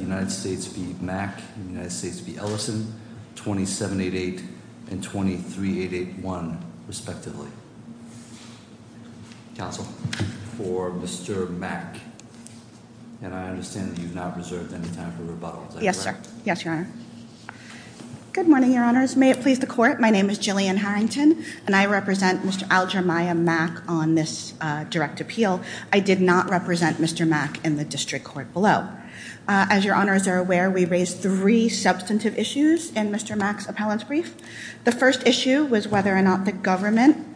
United States v. Mack and the United States v. Ellison, 2788 and 23881, respectively. Counsel, for Mr. Mack, and I understand that you've not reserved any time for rebuttal. Yes, sir. Yes, your honor. Good morning, your honors. May it please the court. My name is Jillian Harrington, and I represent Mr. Alger Maya Mack on this direct appeal. I did not represent Mr. Mack in the district court below. As your honors are aware, we raised three substantive issues in Mr. Mack's appellant's brief. The first issue was whether or not the government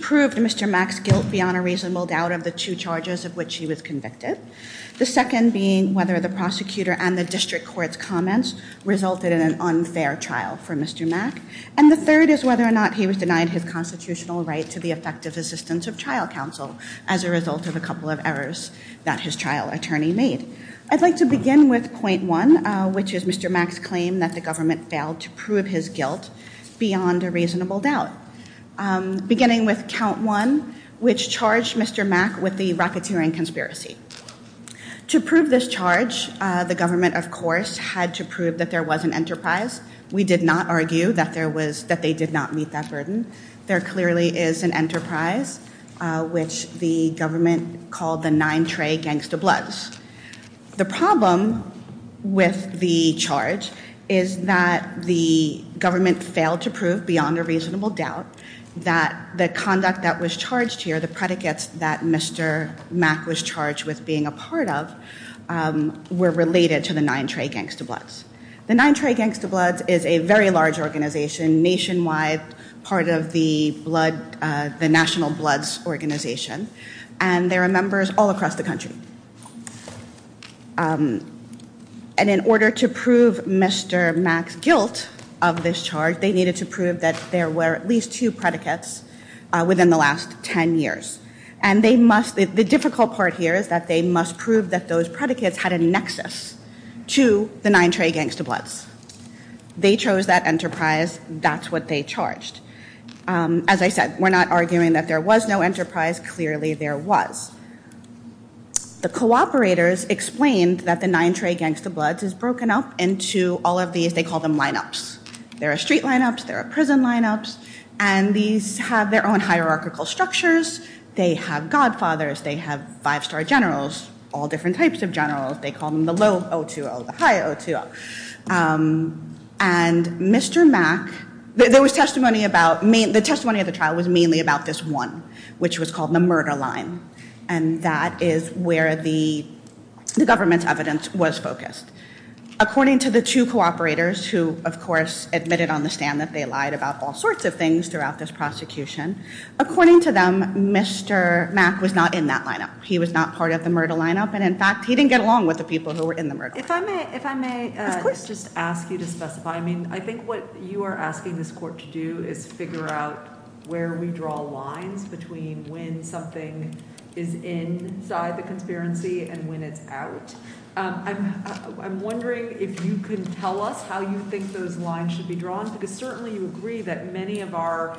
proved Mr. Mack's guilt beyond a reasonable doubt of the two charges of which he was convicted. The second being whether the prosecutor and the district court's comments resulted in an unfair trial for Mr. Mack. And the third is whether or not he was denied his constitutional right to effective assistance of trial counsel as a result of a couple of errors that his trial attorney made. I'd like to begin with point one, which is Mr. Mack's claim that the government failed to prove his guilt beyond a reasonable doubt, beginning with count one, which charged Mr. Mack with the racketeering conspiracy. To prove this charge, the government, of course, had to prove that there was an enterprise. We did not argue that there was that they did not meet that enterprise, which the government called the Nine Tray Gangsta Bloods. The problem with the charge is that the government failed to prove beyond a reasonable doubt that the conduct that was charged here, the predicates that Mr. Mack was charged with being a part of, were related to the Nine Tray Gangsta Bloods. The Nine Tray Gangsta Bloods is a very large organization, nationwide part of the blood, the National Bloods Organization, and there are members all across the country. And in order to prove Mr. Mack's guilt of this charge, they needed to prove that there were at least two predicates within the last 10 years. And they must, the difficult part here is that they must prove that those predicates had a nexus to the Nine Tray Gangsta Bloods. They chose that that's what they charged. As I said, we're not arguing that there was no enterprise, clearly there was. The cooperators explained that the Nine Tray Gangsta Bloods is broken up into all of these, they call them lineups. There are street lineups, there are prison lineups, and these have their own hierarchical structures. They have godfathers, they have five-star generals, all different types of generals. They call them the low O2O, the high O2O. And Mr. Mack, there was testimony about, the testimony of the trial was mainly about this one, which was called the murder line. And that is where the government's evidence was focused. According to the two cooperators, who of course admitted on the stand that they lied about all sorts of things throughout this prosecution, according to them, Mr. Mack was not in that lineup. He was not part of the murder lineup, and in fact, he didn't get along with the people who were in the murder. If I may, if I may just ask you to specify, I mean, I think what you are asking this court to do is figure out where we draw lines between when something is inside the conspiracy and when it's out. I'm wondering if you can tell us how you think those lines should be drawn, because certainly you agree that many of our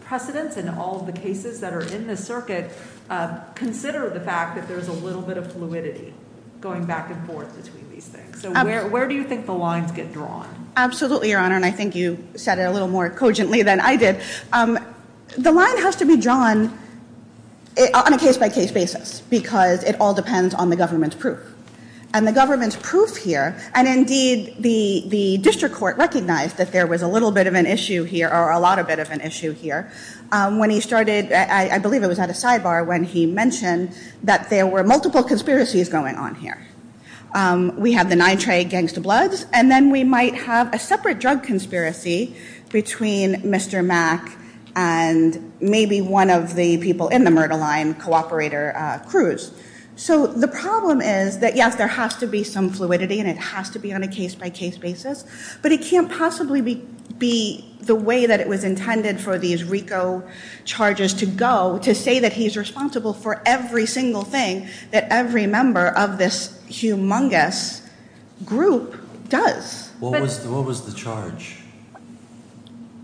precedents and all the cases that are in the circuit consider the fact that there's a little bit of fluidity going back and forth between these things. So where do you think the lines get drawn? Absolutely, Your Honor, and I think you said it a little more cogently than I did. The line has to be drawn on a case-by-case basis, because it all depends on the government's proof. And the government's proof here, and indeed the district court recognized that there was a little bit of an issue here, or a lot a bit of an issue here, when he started, I believe it was at a sidebar, when he mentioned that there were multiple conspiracies going on here. We have the nitrate gangsta bloods, and then we might have a separate drug conspiracy between Mr. Mack and maybe one of the people in the murder line, cooperator Cruz. So the problem is that, yes, there has to be some fluidity, and it has to be on a case-by-case basis, but it can't possibly be the way that it was for every single thing that every member of this humongous group does. What was the charge?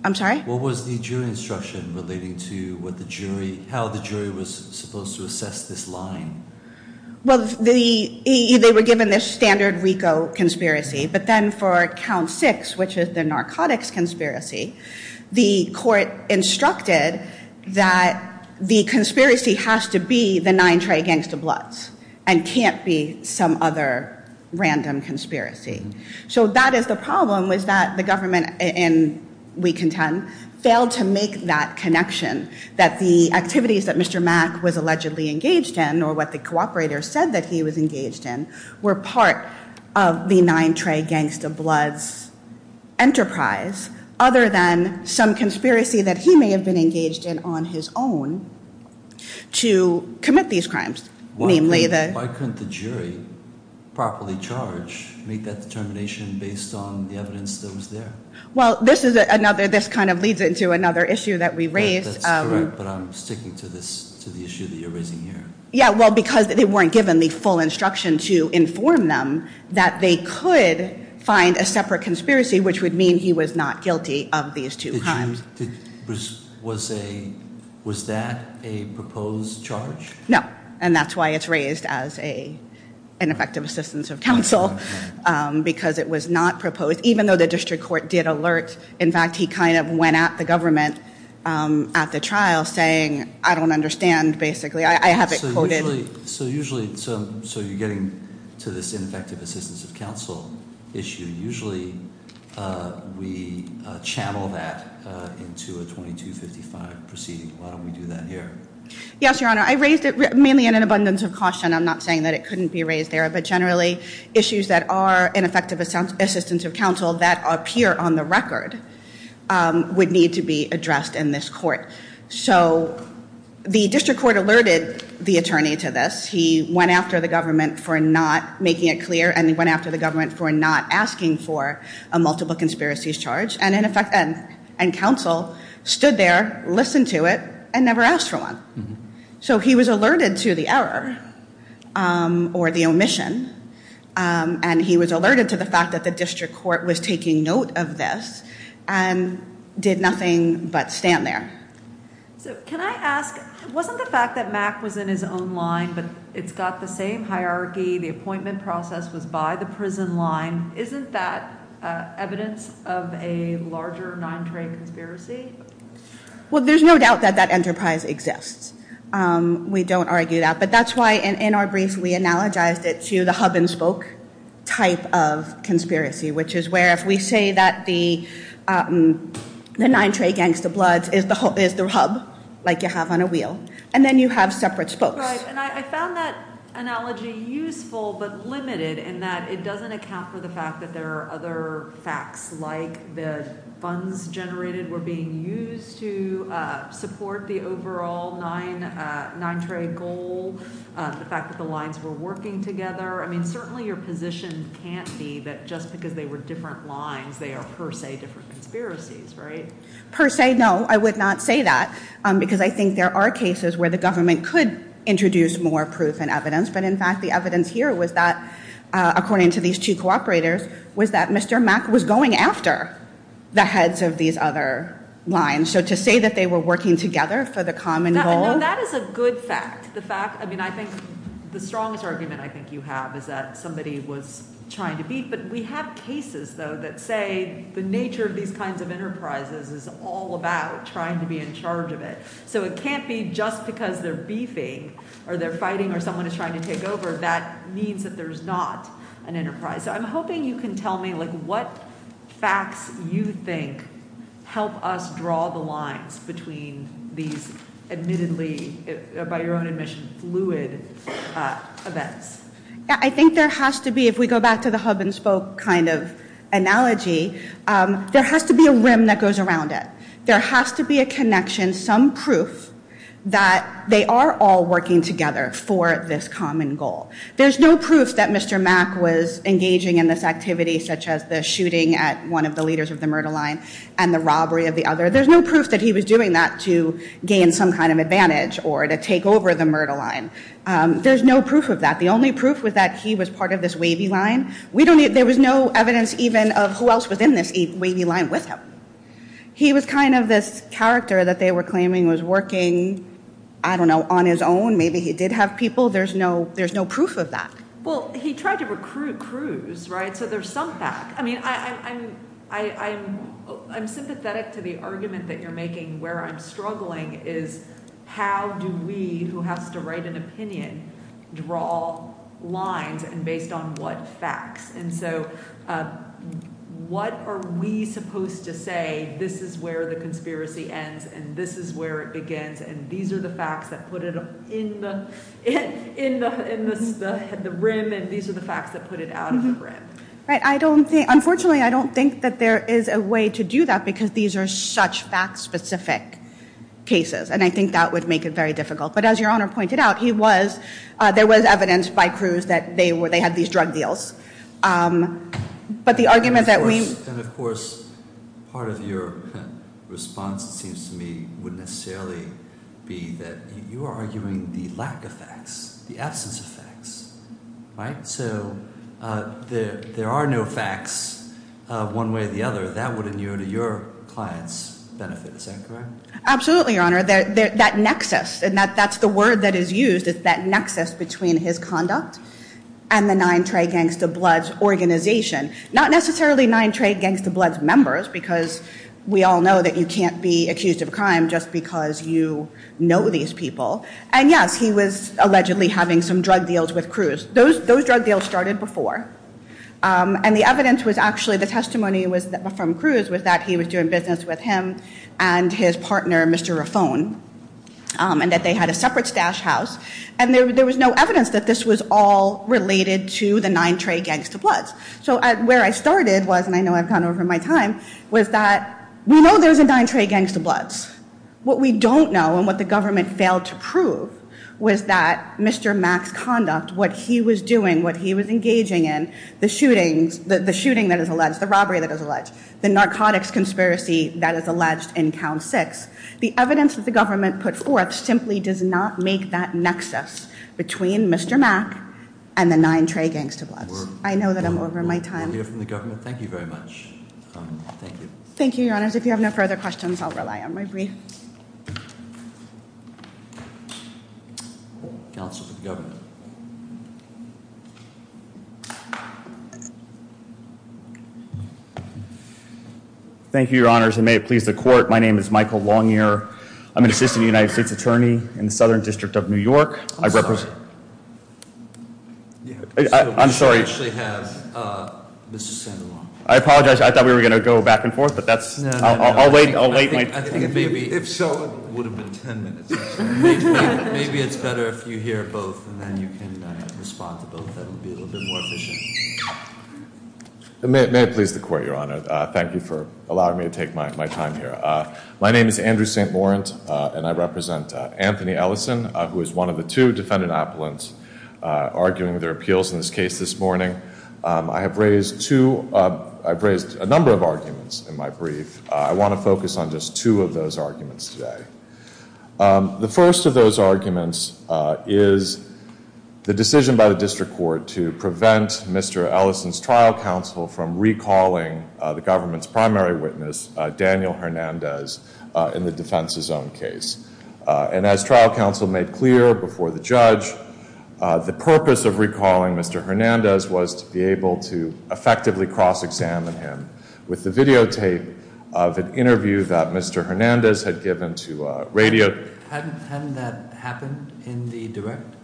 I'm sorry? What was the jury instruction relating to what the jury, how the jury was supposed to assess this line? Well, they were given this standard RICO conspiracy, but then for count six, which is the narcotics conspiracy, the court instructed that the conspiracy has to be the nitrate gangsta bloods, and can't be some other random conspiracy. So that is the problem, was that the government, and we contend, failed to make that connection, that the activities that Mr. Mack was allegedly engaged in, or what the cooperator said that he was engaged in, were part of the nitrate gangsta bloods enterprise, other than some conspiracy that he may have been engaged in on his own to commit these crimes. Why couldn't the jury properly charge, make that determination based on the evidence that was there? Well, this is another, this kind of leads into another issue that we raised. That's correct, but I'm sticking to this, to the issue that you're raising here. Yeah, well, because they weren't given the full instruction to inform them that they could find a separate conspiracy, which would mean he was not guilty of these two crimes. Was that a proposed charge? No, and that's why it's raised as an effective assistance of counsel, because it was not proposed, even though the district court did alert. In fact, he kind of went at the government at the trial saying, I don't understand, basically. I have it quoted. So usually, so you're getting to this ineffective assistance of counsel issue. Usually, we channel that into a 2255 proceeding. Why don't we do that here? Yes, your honor, I raised it mainly in an abundance of caution. I'm not saying that it couldn't be raised there, but generally, issues that are ineffective assistance of counsel that appear on the record would need to be addressed in this court. So the district court alerted the attorney to this. He went after the government for not making it clear, and he went after the government for not asking for a multiple conspiracies charge, and in effect, and counsel stood there, listened to it, and never asked for one. So he was alerted to the error or the omission, and he was alerted to the fact that the district court was taking note of this and did nothing but stand there. So can I ask, wasn't the fact that Mack was in his own line, but it's got the same hierarchy, the appointment process was by the prison line. Isn't that evidence of a larger non-trade conspiracy? Well, there's no doubt that that enterprise exists. We don't argue that, but that's why in our brief, we analogized it to the hub-and-spoke type of conspiracy, which is where if we say that the non-trade gangsta bloods is the hub, like you have on a wheel, and then you have separate spokes. Right, and I found that analogy useful, but limited in that it doesn't account for the fact that there are other facts, like the funds generated were used to support the overall non-trade goal, the fact that the lines were working together. I mean, certainly your position can't be that just because they were different lines, they are per se different conspiracies, right? Per se, no, I would not say that, because I think there are cases where the government could introduce more proof and evidence, but in fact the evidence here was that, according to these two cooperators, was that Mr. Mack was going after the heads of these other lines. So to say that they were working together for the common goal? No, that is a good fact. The fact, I mean, I think the strongest argument I think you have is that somebody was trying to beat, but we have cases though that say the nature of these kinds of enterprises is all about trying to be in charge of it. So it can't be just because they're beefing or they're fighting or someone is trying to take over, that means that there's not an enterprise. So I'm hoping you can tell me, like, facts you think help us draw the lines between these admittedly, by your own admission, fluid events? Yeah, I think there has to be, if we go back to the hub and spoke kind of analogy, there has to be a rim that goes around it. There has to be a connection, some proof that they are all working together for this common goal. There's no proof that Mr. Mack was engaging in this shooting at one of the leaders of the murder line and the robbery of the other. There's no proof that he was doing that to gain some kind of advantage or to take over the murder line. There's no proof of that. The only proof was that he was part of this wavy line. We don't need, there was no evidence even of who else was in this wavy line with him. He was kind of this character that they were claiming was working, I don't know, on his own. Maybe he did have people. There's no proof of that. Well, he tried to recruit crews, right? So there's some fact. I mean, I'm sympathetic to the argument that you're making where I'm struggling is how do we, who has to write an opinion, draw lines and based on what facts? And so what are we supposed to say, this is where the conspiracy ends and this is where it begins, and these are the facts that put it in the rim, and these are the facts that put it out of the rim. Unfortunately, I don't think that there is a way to do that because these are such fact-specific cases, and I think that would make it very difficult. But as Your Honor pointed out, there was evidence by crews that they had these drug deals. But the argument that we... And of course, part of your response, it seems to me, wouldn't necessarily be that you are arguing the lack of facts, the absence of facts, right? So there are no facts one way or the other. That would inure to your client's benefit. Is that correct? Absolutely, Your Honor. That nexus, and that's the word that is used, is that nexus between his conduct and the Nine Trey Gangsta Bloods organization. Not necessarily Nine Trey Gangsta Bloods members because we all know that you can't be accused of a crime just because you know these people. And yes, he was allegedly having some drug deals with crews. Those drug deals started before, and the evidence was actually... The testimony was from crews was that he was doing business with him and his partner, Mr. Raffone, and that they had a separate stash house. And there was no evidence that this was all related to the Nine Trey Gangsta Bloods. So where I started was, and I know I've gone over my time, was that we know there's a Nine Trey Gangsta Bloods. The evidence that the government failed to prove was that Mr. Mack's conduct, what he was doing, what he was engaging in, the shootings, the shooting that is alleged, the robbery that is alleged, the narcotics conspiracy that is alleged in Count Six. The evidence that the government put forth simply does not make that nexus between Mr. Mack and the Nine Trey Gangsta Bloods. I know that I'm over my time. We'll hear from the government. Thank you very much. Thank you. Thank you, Your Honors. If you have no further questions, I'll rely on my brief. Counsel for the government. Thank you, Your Honors, and may it please the court. My name is Michael Longyear. I'm an assistant United States Attorney in the Southern District of New York. I represent- I'm sorry. I'm sorry. We actually have Mr. Sandoval. I apologize. I thought we were going to go back and forth, but that's- No, no, no. I'll wait my turn. I think maybe- If so, it would have been ten minutes. Maybe it's better if you hear both, and then you can respond to both. That would be a little bit more efficient. May it please the court, Your Honor. Thank you for allowing me to take my time here. My name is Andrew St. Laurent, and I represent Anthony Ellison, who is one of the two defendant appellants arguing their appeals in this case this morning. I have raised two- I've raised a number of arguments in my brief. I want to focus on just two of those arguments today. The first of those arguments is the decision by the district court to prevent Mr. Ellison's trial counsel from recalling the government's primary witness, Daniel Hernandez, in the defense's own case. And as trial counsel made clear before the judge, the purpose of recalling Mr. Hernandez was to be able to effectively cross-examine him. With the videotape of an interview that Mr. Hernandez had given to radio- Hadn't that happened in the direct?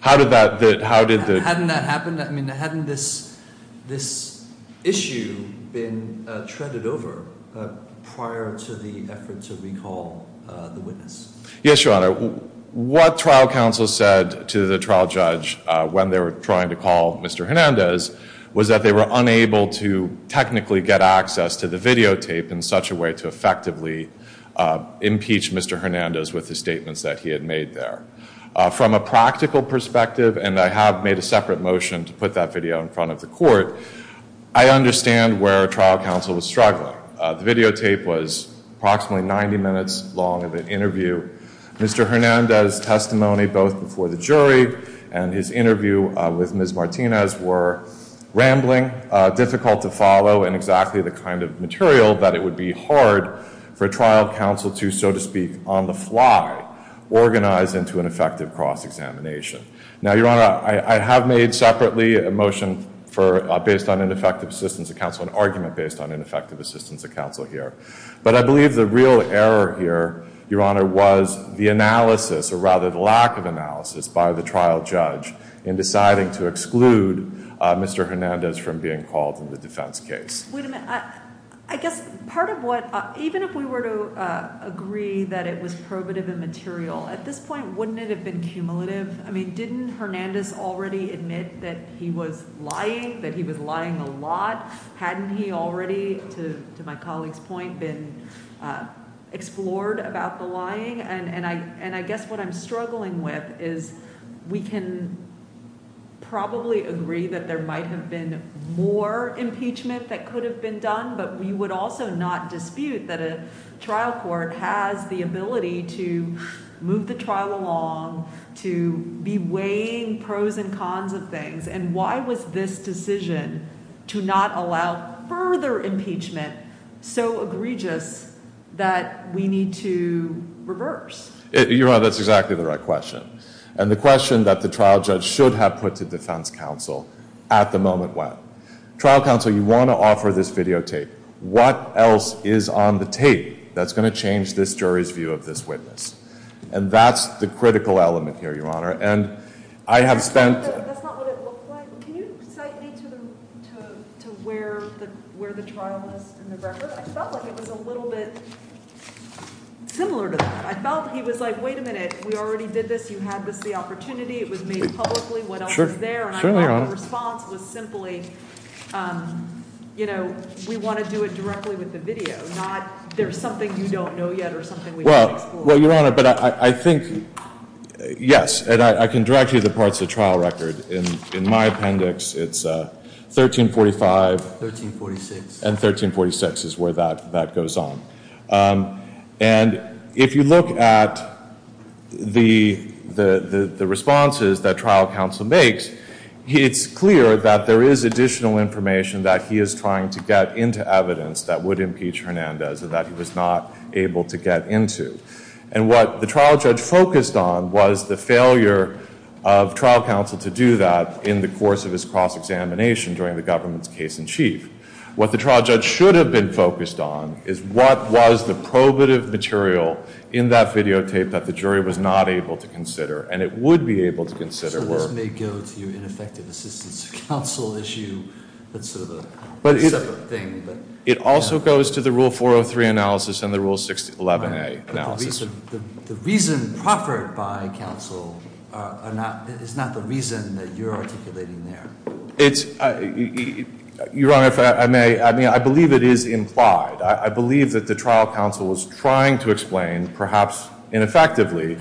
How did that- Hadn't that happened? I mean, hadn't this issue been treaded over prior to the effort to recall the witness? Yes, Your Honor. What trial counsel said to the trial judge when they were trying to call Mr. Hernandez was that they were unable to technically get access to the videotape in such a way to effectively impeach Mr. Hernandez with the statements that he had made there. From a practical perspective, and I have made a separate motion to put that video in front of the court, I understand where trial counsel was struggling. The videotape was approximately 90 minutes long of an interview. Mr. Hernandez' testimony both before the jury and his interview with Ms. Martinez were rambling, difficult to follow, and exactly the kind of material that it would be hard for trial counsel to, so to speak, on the fly, organize into an effective cross-examination. Now, Your Honor, I have made separately a motion based on ineffective assistance of counsel, an argument based on ineffective assistance of counsel here. But I believe the real error here, Your Honor, was the analysis, or rather the lack of analysis, by the trial judge in deciding to exclude Mr. Hernandez from being called in the defense case. Wait a minute. I guess part of what, even if we were to agree that it was probative and material, at this point wouldn't it have been cumulative? I mean, didn't Hernandez already admit that he was lying, that he was lying a lot? Hadn't he already, to my colleague's point, been explored about the lying? And I guess what I'm struggling with is we can probably agree that there might have been more impeachment that could have been done, but we would also not dispute that a trial court has the ability to move the trial along, to be weighing pros and cons of things. And why was this decision to not allow further impeachment so egregious that we need to reverse? Your Honor, that's exactly the right question, and the question that the trial judge should have put to defense counsel at the moment when. Trial counsel, you want to offer this videotape. What else is on the tape that's going to change this jury's view of this witness? And that's the critical element here, Your Honor. And I have spent. That's not what it looked like. Can you cite me to where the trial was in the record? I felt like it was a little bit similar to that. I felt he was like, wait a minute. We already did this. You had this opportunity. It was made publicly. What else was there? And I felt the response was simply, you know, we want to do it directly with the video, not there's something you don't know yet or something we haven't explored. Well, Your Honor, but I think, yes, and I can direct you to the parts of the trial record. In my appendix, it's 1345. 1346. And 1346 is where that goes on. And if you look at the responses that trial counsel makes, it's clear that there is additional information that he is trying to get into evidence that would impeach Hernandez and that he was not able to get into. And what the trial judge focused on was the failure of trial counsel to do that in the course of his cross-examination during the government's case in chief. What the trial judge should have been focused on is what was the probative material in that videotape that the jury was not able to consider and it would be able to consider. So this may go to your ineffective assistance of counsel issue. That's sort of a separate thing. It also goes to the Rule 403 analysis and the Rule 611A analysis. The reason proffered by counsel is not the reason that you're articulating there. Your Honor, if I may, I believe it is implied. I believe that the trial counsel was trying to explain, perhaps ineffectively,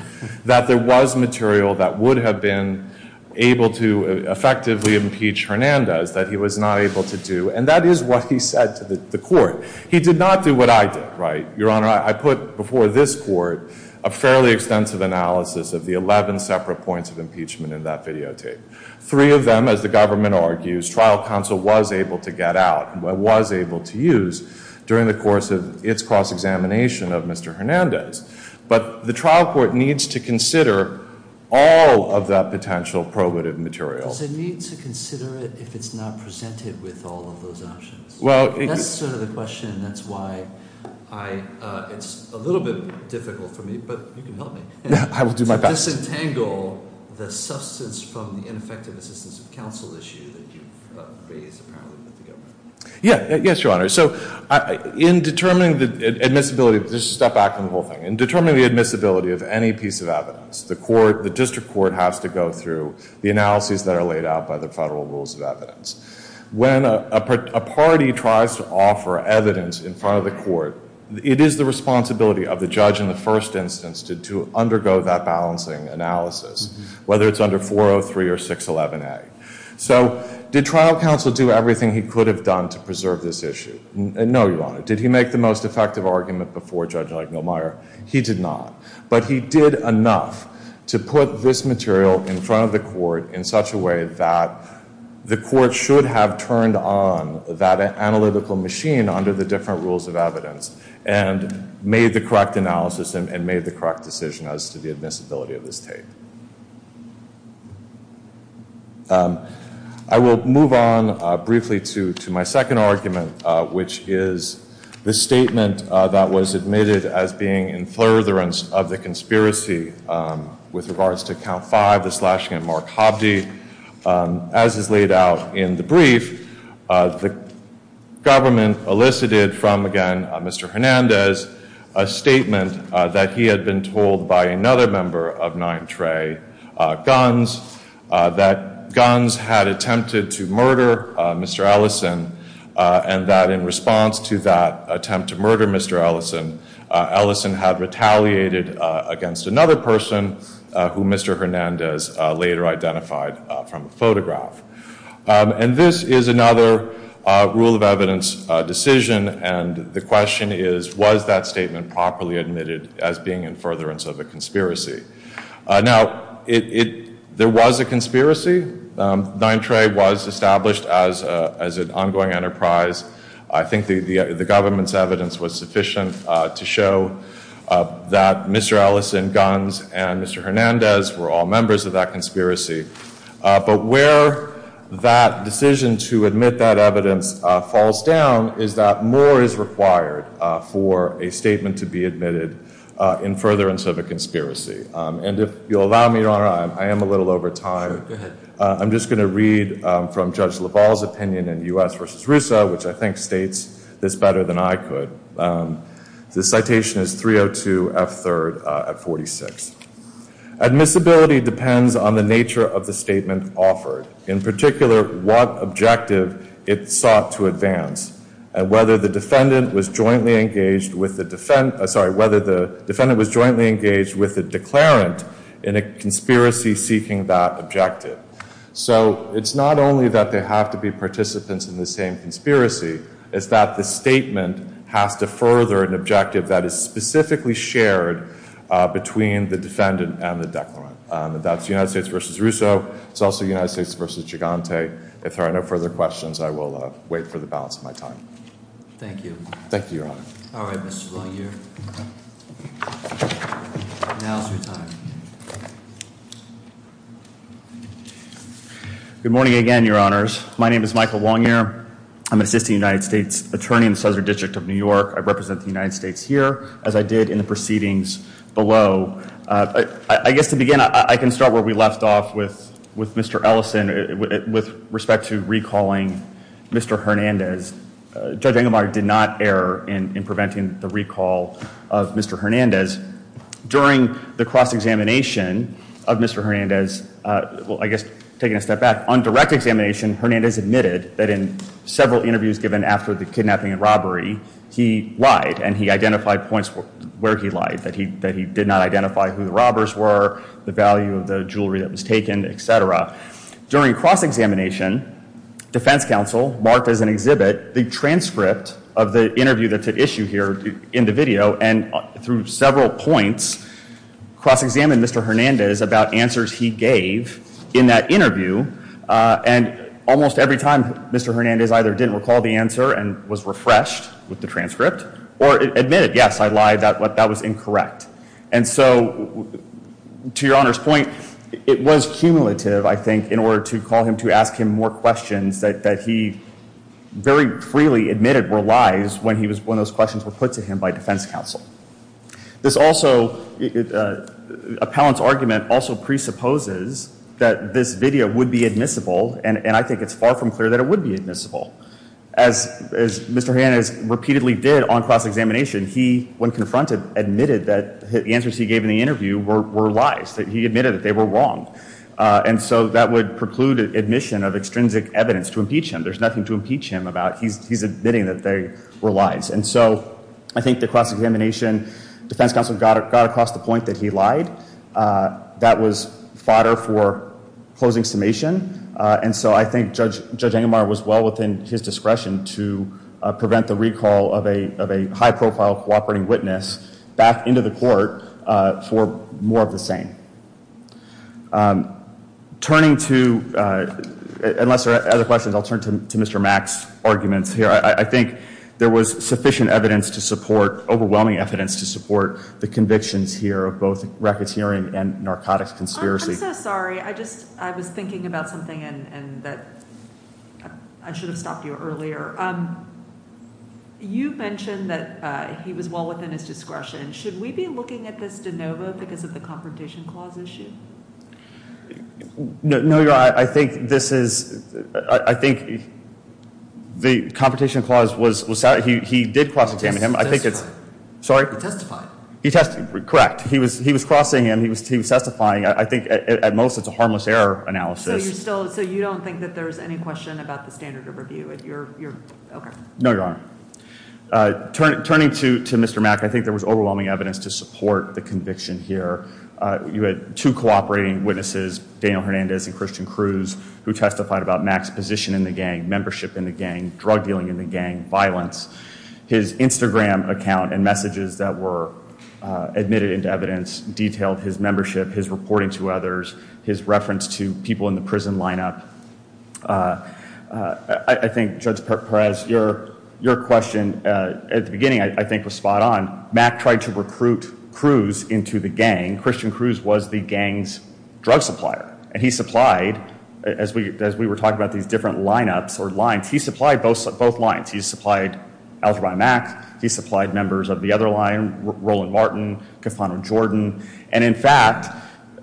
that there was material that would have been able to effectively impeach Hernandez that he was not able to do. And that is what he said to the court. He did not do what I did. Your Honor, I put before this court a fairly extensive analysis of the 11 separate points of impeachment in that videotape. Three of them, as the government argues, trial counsel was able to get out and was able to use during the course of its cross-examination of Mr. Hernandez. But the trial court needs to consider all of that potential probative material. Does it need to consider it if it's not presented with all of those options? That's sort of the question. That's why it's a little bit difficult for me, but you can help me. I will do my best. Does this entangle the substance from the ineffective assistance of counsel issue that you've raised, apparently, with the government? Yes, Your Honor. So in determining the admissibility, just to step back from the whole thing. In determining the admissibility of any piece of evidence, the district court has to go through the analyses that are laid out by the federal rules of evidence. When a party tries to offer evidence in front of the court, it is the responsibility of the judge in the first instance to undergo that balancing analysis, whether it's under 403 or 611A. So did trial counsel do everything he could have done to preserve this issue? No, Your Honor. Did he make the most effective argument before Judge Meyermeyer? He did not. But he did enough to put this material in front of the court in such a way that the court should have turned on that analytical machine under the different rules of evidence and made the correct analysis and made the correct decision as to the admissibility of this tape. I will move on briefly to my second argument, which is the statement that was admitted as being in furtherance of the conspiracy with regards to Count 5, the slashing at Mark Hovde. As is laid out in the brief, the government elicited from, again, Mr. Hernandez a statement that he had been told by another member of 9th Ray Guns that Guns had attempted to murder Mr. Ellison and that in response to that attempt to murder Mr. Ellison, Ellison had retaliated against another person who Mr. Hernandez later identified from a photograph. And this is another rule of evidence decision, and the question is, was that statement properly admitted as being in furtherance of a conspiracy? Now, there was a conspiracy. 9th Ray was established as an ongoing enterprise. I think the government's evidence was sufficient to show that Mr. Ellison, Guns, and Mr. Hernandez were all members of that conspiracy. But where that decision to admit that evidence falls down is that more is required for a statement to be admitted in furtherance of a conspiracy. And if you'll allow me, Your Honor, I am a little over time. I'm just going to read from Judge LaValle's opinion in U.S. v. RUSA, which I think states this better than I could. The citation is 302 F. 3rd at 46. Admissibility depends on the nature of the statement offered, in particular, what objective it sought to advance, and whether the defendant was jointly engaged with a declarant in a conspiracy seeking that objective. So it's not only that they have to be participants in the same conspiracy. It's that the statement has to further an objective that is specifically shared between the defendant and the declarant. That's United States v. RUSA. It's also United States v. Gigante. If there are no further questions, I will wait for the balance of my time. Thank you. Thank you, Your Honor. All right, Mr. Longyear. Now is your time. Good morning again, Your Honors. My name is Michael Longyear. I'm an assistant United States attorney in the Southern District of New York. I represent the United States here, as I did in the proceedings below. I guess to begin, I can start where we left off with Mr. Ellison with respect to recalling Mr. Hernandez. Judge Engelbart did not err in preventing the recall of Mr. Hernandez. During the cross-examination of Mr. Hernandez, well, I guess taking a step back, on direct examination, Hernandez admitted that in several interviews given after the kidnapping and robbery, he lied, and he identified points where he lied, that he did not identify who the robbers were, the value of the jewelry that was taken, et cetera. During cross-examination, defense counsel marked as an exhibit the transcript of the interview that's at issue here in the video, and through several points, cross-examined Mr. Hernandez about answers he gave in that interview, and almost every time, Mr. Hernandez either didn't recall the answer and was refreshed with the transcript, or admitted, yes, I lied, that was incorrect. And so to Your Honor's point, it was cumulative, I think, in order to call him to ask him more questions that he very freely admitted were lies when those questions were put to him by defense counsel. This also, Appellant's argument also presupposes that this video would be admissible, and I think it's far from clear that it would be admissible. As Mr. Hernandez repeatedly did on cross-examination, he, when confronted, admitted that the answers he gave in the interview were lies, that he admitted that they were wrong. And so that would preclude admission of extrinsic evidence to impeach him. There's nothing to impeach him about. He's admitting that they were lies. And so I think the cross-examination, defense counsel got across the point that he lied. That was fodder for closing summation. And so I think Judge Ingemar was well within his discretion to prevent the recall of a high-profile cooperating witness back into the court for more of the same. Turning to, unless there are other questions, I'll turn to Mr. Mack's arguments here. I think there was sufficient evidence to support, overwhelming evidence to support, the convictions here of both racketeering and narcotics conspiracy. I'm so sorry. I just, I was thinking about something and that I should have stopped you earlier. You mentioned that he was well within his discretion. Should we be looking at this de novo because of the confrontation clause issue? No, you're right. I think this is, I think the confrontation clause was, he did cross-examine him. He testified. Sorry? He testified. He testified. Correct. He was crossing him. He was testifying. I think at most it's a harmless error analysis. So you don't think that there's any question about the standard of review? No, Your Honor. Turning to Mr. Mack, I think there was overwhelming evidence to support the conviction here. You had two cooperating witnesses, Daniel Hernandez and Christian Cruz, who testified about Mack's position in the gang, membership in the gang, drug dealing in the gang, violence. His Instagram account and messages that were admitted into evidence detailed his membership, his reporting to others, his reference to people in the prison lineup. I think, Judge Perez, your question at the beginning, I think, was spot on. Mack tried to recruit Cruz into the gang. Christian Cruz was the gang's drug supplier. And he supplied, as we were talking about these different lineups or lines, he supplied both lines. He supplied Algebrai Mack. He supplied members of the other line, Roland Martin, Cofano Jordan. And, in fact,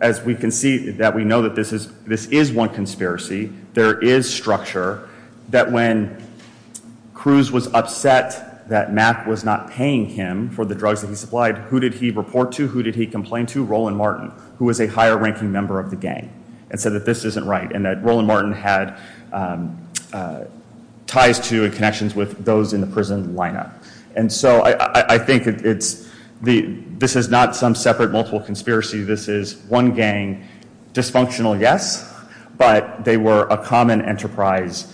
as we can see that we know that this is one conspiracy, there is structure that when Cruz was upset that Mack was not paying him for the drugs that he supplied, who did he report to, who did he complain to? Roland Martin, who was a higher ranking member of the gang, and said that this isn't right and that Roland Martin had ties to and connections with those in the prison lineup. And so I think this is not some separate multiple conspiracy. This is one gang, dysfunctional, yes, but they were a common enterprise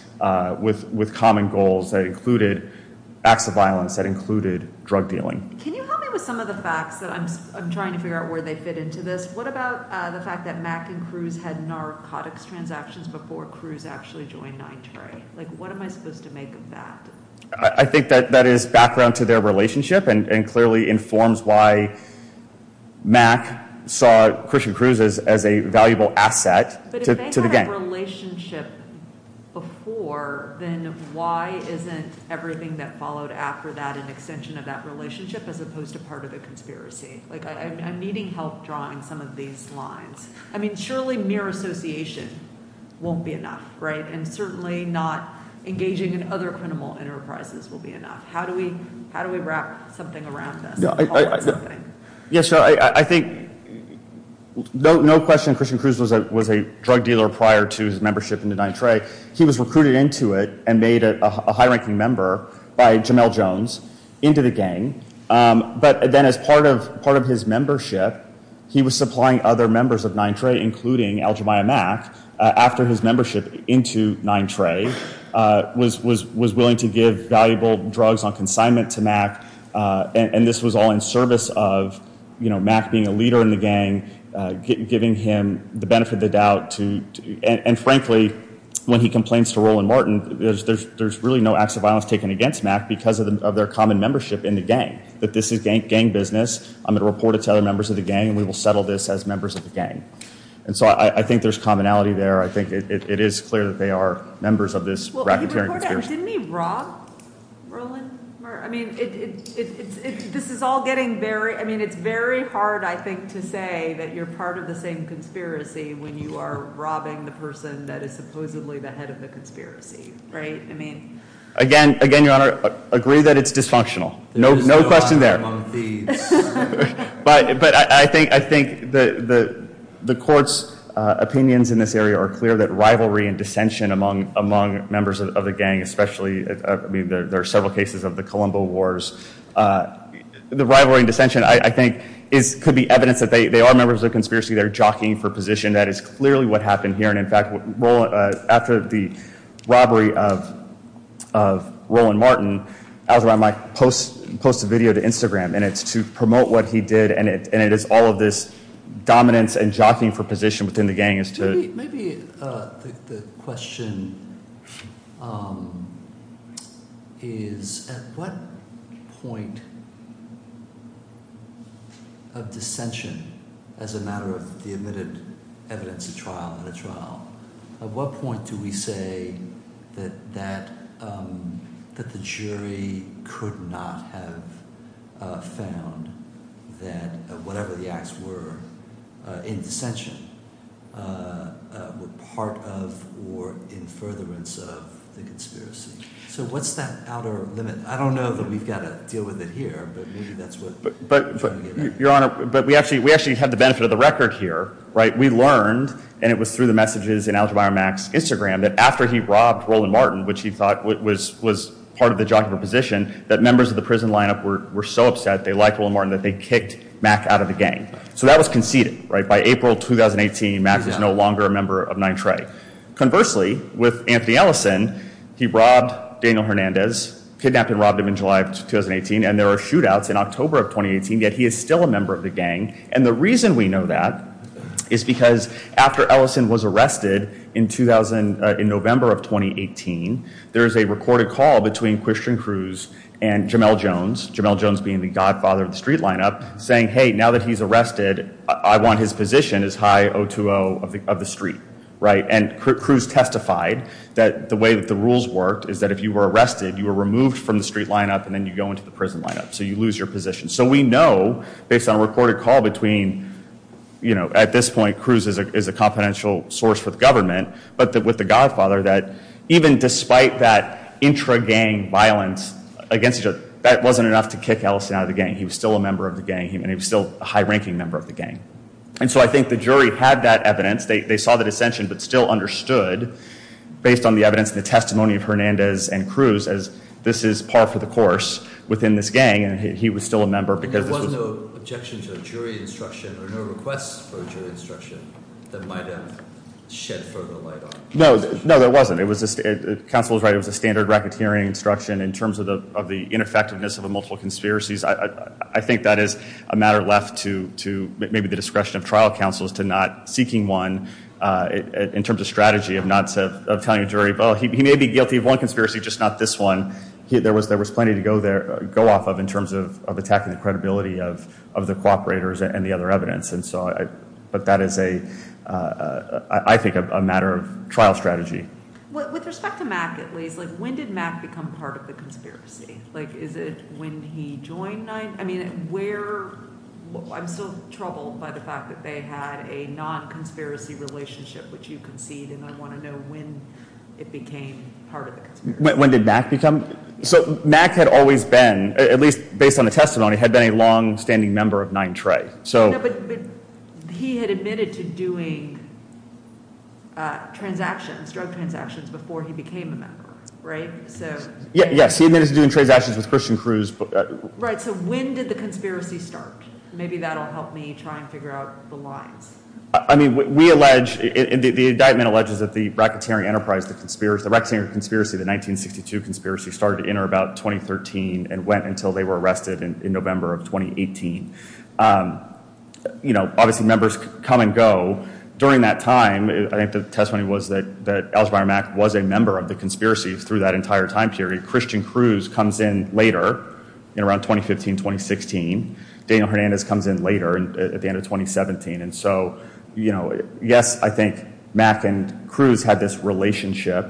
with common goals that included acts of violence, that included drug dealing. Can you help me with some of the facts that I'm trying to figure out where they fit into this? What about the fact that Mack and Cruz had narcotics transactions before Cruz actually joined Nine Tray? What am I supposed to make of that? I think that is background to their relationship and clearly informs why Mack saw Christian Cruz as a valuable asset to the gang. But if they had a relationship before, then why isn't everything that followed after that an extension of that relationship as opposed to part of a conspiracy? Like, I'm needing help drawing some of these lines. I mean, surely mere association won't be enough, right? And certainly not engaging in other criminal enterprises will be enough. How do we wrap something around this? Yeah, sure. I think no question Christian Cruz was a drug dealer prior to his membership in the Nine Tray. He was recruited into it and made a high ranking member by Jamel Jones into the gang. But then as part of his membership, he was supplying other members of Nine Tray, including Aljamiah Mack, after his membership into Nine Tray, was willing to give valuable drugs on consignment to Mack. And this was all in service of, you know, Mack being a leader in the gang, giving him the benefit of the doubt. And frankly, when he complains to Roland Martin, there's really no acts of violence taken against Mack because of their common membership in the gang, that this is gang business. I'm going to report it to other members of the gang and we will settle this as members of the gang. And so I think there's commonality there. I think it is clear that they are members of this racketeering conspiracy. Didn't he rob Roland Martin? I mean, it's very hard, I think, to say that you're part of the same conspiracy when you are robbing the person that is supposedly the head of the conspiracy, right? Again, Your Honor, agree that it's dysfunctional. No question there. But I think the court's opinions in this area are clear that rivalry and dissension among members of the gang, especially, I mean, there are several cases of the Colombo Wars. The rivalry and dissension, I think, could be evidence that they are members of the conspiracy. They're jockeying for position. That is clearly what happened here. And, in fact, after the robbery of Roland Martin, Al-Jarrah might post a video to Instagram, and it's to promote what he did, and it is all of this dominance and jockeying for position within the gang as to— As a matter of the admitted evidence at trial, at a trial, at what point do we say that the jury could not have found that whatever the acts were in dissension were part of or in furtherance of the conspiracy? So what's that outer limit? I don't know that we've got to deal with it here, but maybe that's what— Your Honor, but we actually have the benefit of the record here, right? We learned, and it was through the messages in Al-Jarrah Mack's Instagram, that after he robbed Roland Martin, which he thought was part of the jockey for position, that members of the prison lineup were so upset, they liked Roland Martin, that they kicked Mack out of the gang. So that was conceded, right? By April 2018, Mack is no longer a member of NITRE. Conversely, with Anthony Ellison, he robbed Daniel Hernandez, kidnapped and robbed him in July of 2018, and there were shootouts in October of 2018, yet he is still a member of the gang. And the reason we know that is because after Ellison was arrested in November of 2018, there is a recorded call between Christian Cruz and Jamel Jones, Jamel Jones being the godfather of the street lineup, saying, hey, now that he's arrested, I want his position as high O2O of the street, right? And Cruz testified that the way that the rules worked is that if you were arrested, you were removed from the street lineup and then you go into the prison lineup, so you lose your position. So we know, based on a recorded call between, you know, at this point, Cruz is a confidential source for the government, but with the godfather, that even despite that intra-gang violence against each other, that wasn't enough to kick Ellison out of the gang. He was still a member of the gang, and he was still a high-ranking member of the gang. And so I think the jury had that evidence. They saw the dissension but still understood, based on the evidence and the testimony of Hernandez and Cruz, as this is par for the course within this gang, and he was still a member because this was— And there was no objection to a jury instruction or no requests for a jury instruction that might have shed further light on— No, no, there wasn't. Counsel was right. It was a standard racketeering instruction in terms of the ineffectiveness of multiple conspiracies. I think that is a matter left to maybe the discretion of trial counsels to not seeking one in terms of strategy of telling a jury, well, he may be guilty of one conspiracy, just not this one. There was plenty to go off of in terms of attacking the credibility of the cooperators and the other evidence, but that is, I think, a matter of trial strategy. With respect to Mack, at least, when did Mack become part of the conspiracy? Is it when he joined—I mean, where— I'm still troubled by the fact that they had a non-conspiracy relationship, which you concede, and I want to know when it became part of the conspiracy. When did Mack become—so Mack had always been, at least based on the testimony, had been a longstanding member of 9TRE. But he had admitted to doing transactions, drug transactions, before he became a member, right? Yes, he admitted to doing transactions with Christian Cruz. Right, so when did the conspiracy start? Maybe that will help me try and figure out the lines. I mean, we allege, the indictment alleges that the racketeering enterprise, the racketeering conspiracy, the 1962 conspiracy, started to enter about 2013 and went until they were arrested in November of 2018. You know, obviously members come and go. During that time, I think the testimony was that Algebraier Mack was a member of the conspiracy through that entire time period. Christian Cruz comes in later, in around 2015, 2016. Daniel Hernandez comes in later, at the end of 2017. And so, you know, yes, I think Mack and Cruz had this relationship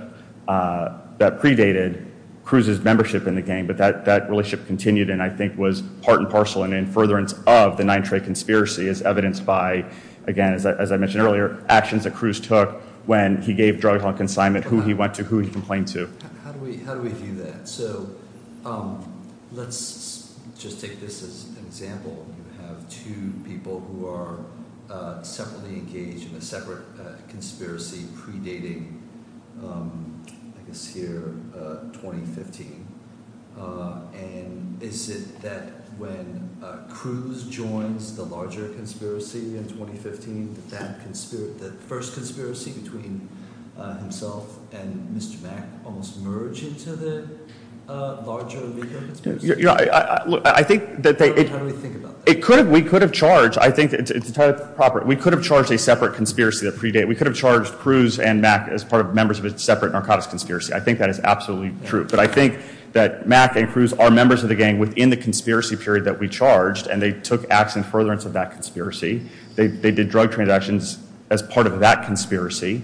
that predated Cruz's membership in the gang, but that relationship continued and I think was part and parcel and in furtherance of the 9TRE conspiracy as evidenced by, again, as I mentioned earlier, actions that Cruz took when he gave drug-dealing consignment, who he went to, who he complained to. How do we view that? So let's just take this as an example. You have two people who are separately engaged in a separate conspiracy predating, I guess here, 2015. And is it that when Cruz joins the larger conspiracy in 2015, that that first conspiracy between himself and Mr. Mack almost merged into the larger Amigo conspiracy? How do we think about that? We could have charged, I think it's entirely proper. We could have charged a separate conspiracy that predated. We could have charged Cruz and Mack as members of a separate narcotics conspiracy. I think that is absolutely true. But I think that Mack and Cruz are members of the gang within the conspiracy period that we charged and they took action in furtherance of that conspiracy. They did drug transactions as part of that conspiracy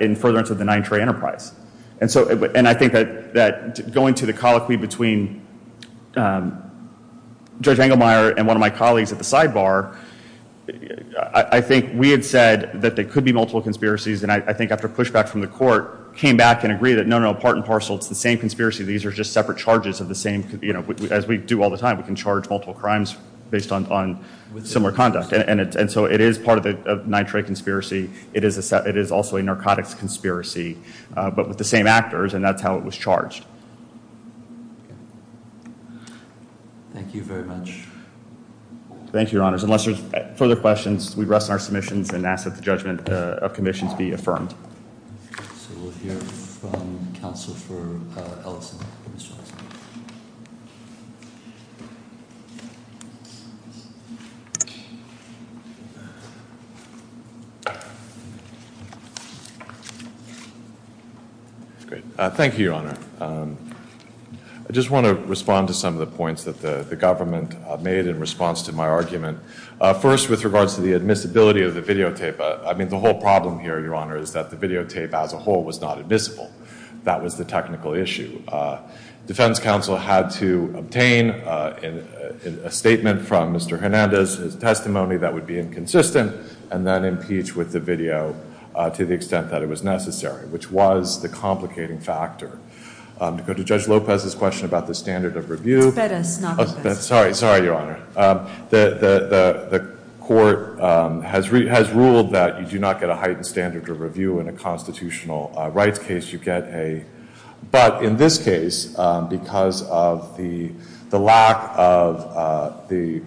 in furtherance of the 9TRE enterprise. And I think that going to the colloquy between Judge Engelmeyer and one of my colleagues at the sidebar, I think we had said that there could be multiple conspiracies and I think after pushback from the court, came back and agreed that no, no, part and parcel, it's the same conspiracy. These are just separate charges of the same, as we do all the time. We can charge multiple crimes based on similar conduct. And so it is part of the 9TRE conspiracy. It is also a narcotics conspiracy, but with the same actors and that's how it was charged. Thank you very much. Thank you, Your Honors. Unless there's further questions, we rest on our submissions and ask that the judgment of commissions be affirmed. So we'll hear from Counsel for Ellison. Thank you, Your Honor. I just want to respond to some of the points that the government made in response to my argument. First, with regards to the admissibility of the videotape, I mean the whole problem here, Your Honor, is that the videotape as a whole was not admissible. That was the technical issue. Defense counsel had to obtain a statement from Mr. Hernandez, his testimony that would be inconsistent, and then impeach with the video to the extent that it was necessary, which was the complicating factor. To go to Judge Lopez's question about the standard of review. It's Bettis, not Lopez. Sorry, Your Honor. The court has ruled that you do not get a heightened standard of review in a constitutional rights case. But in this case, because of the lack of the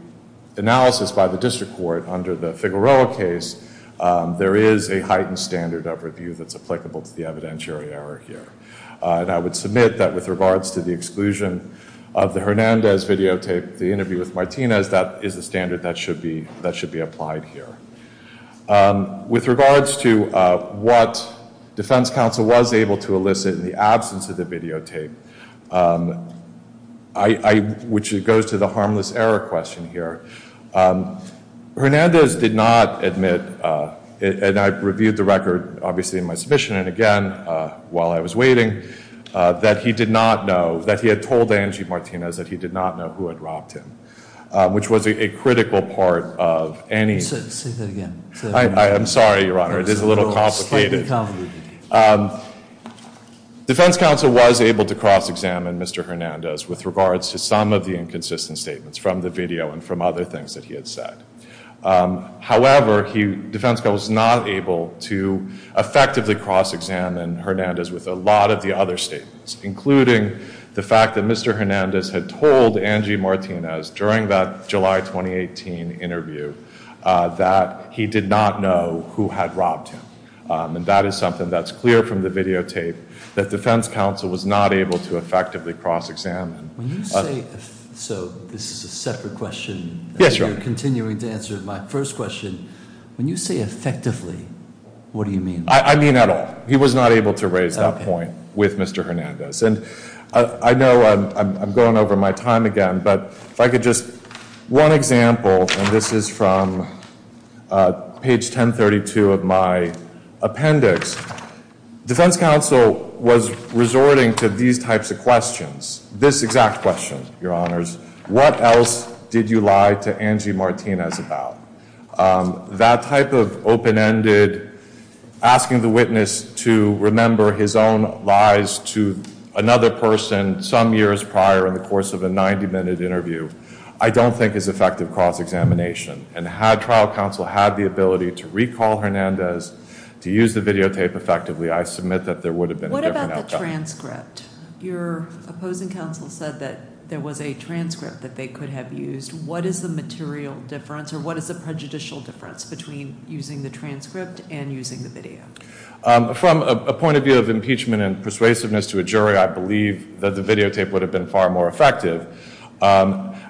analysis by the district court under the Figueroa case, there is a heightened standard of review that's applicable to the evidentiary error here. And I would submit that with regards to the exclusion of the Hernandez videotape, the interview with Martinez, that is the standard that should be applied here. With regards to what defense counsel was able to elicit in the absence of the videotape, which goes to the harmless error question here, Hernandez did not admit, and I reviewed the record, obviously, in my submission, and again, while I was waiting, that he did not know, that he had told Angie Martinez that he did not know who had robbed him, which was a critical part of any. Say that again. I'm sorry, Your Honor. It is a little complicated. It's slightly complicated. Defense counsel was able to cross-examine Mr. Hernandez with regards to some of the inconsistent statements from the video and from other things that he had said. However, defense counsel was not able to effectively cross-examine Hernandez with a lot of the other statements, including the fact that Mr. Hernandez had told Angie Martinez during that July 2018 interview that he did not know who had robbed him. And that is something that's clear from the videotape, that defense counsel was not able to effectively cross-examine. When you say, so this is a separate question. Yes, Your Honor. You're continuing to answer my first question. When you say effectively, what do you mean? I mean at all. He was not able to raise that point with Mr. Hernandez. And I know I'm going over my time again, but if I could just, one example, and this is from page 1032 of my appendix. Defense counsel was resorting to these types of questions. This exact question, Your Honors. What else did you lie to Angie Martinez about? That type of open-ended asking the witness to remember his own lies to another person some years prior in the course of a 90-minute interview. I don't think is effective cross-examination. And had trial counsel had the ability to recall Hernandez to use the videotape effectively, I submit that there would have been a different outcome. What about the transcript? Your opposing counsel said that there was a transcript that they could have used. What is the material difference, or what is the prejudicial difference between using the transcript and using the video? From a point of view of impeachment and persuasiveness to a jury, I believe that the videotape would have been far more effective.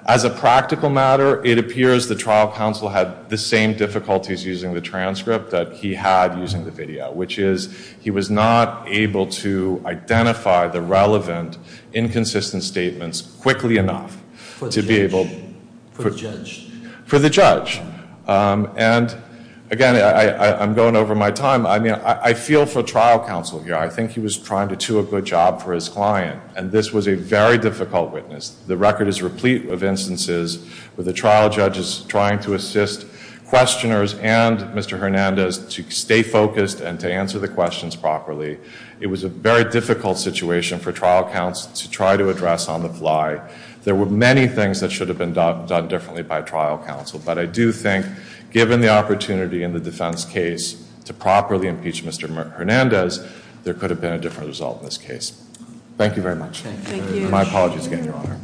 As a practical matter, it appears the trial counsel had the same difficulties using the transcript that he had using the video, which is he was not able to identify the relevant inconsistent statements quickly enough to be able to- For the judge. For the judge. And, again, I'm going over my time. I mean, I feel for trial counsel here. I think he was trying to do a good job for his client, and this was a very difficult witness. The record is replete of instances where the trial judge is trying to assist questioners and Mr. Hernandez to stay focused and to answer the questions properly. It was a very difficult situation for trial counsel to try to address on the fly. There were many things that should have been done differently by trial counsel, but I do think given the opportunity in the defense case to properly impeach Mr. Hernandez, there could have been a different result in this case. Thank you very much. My apologies again, Your Honor.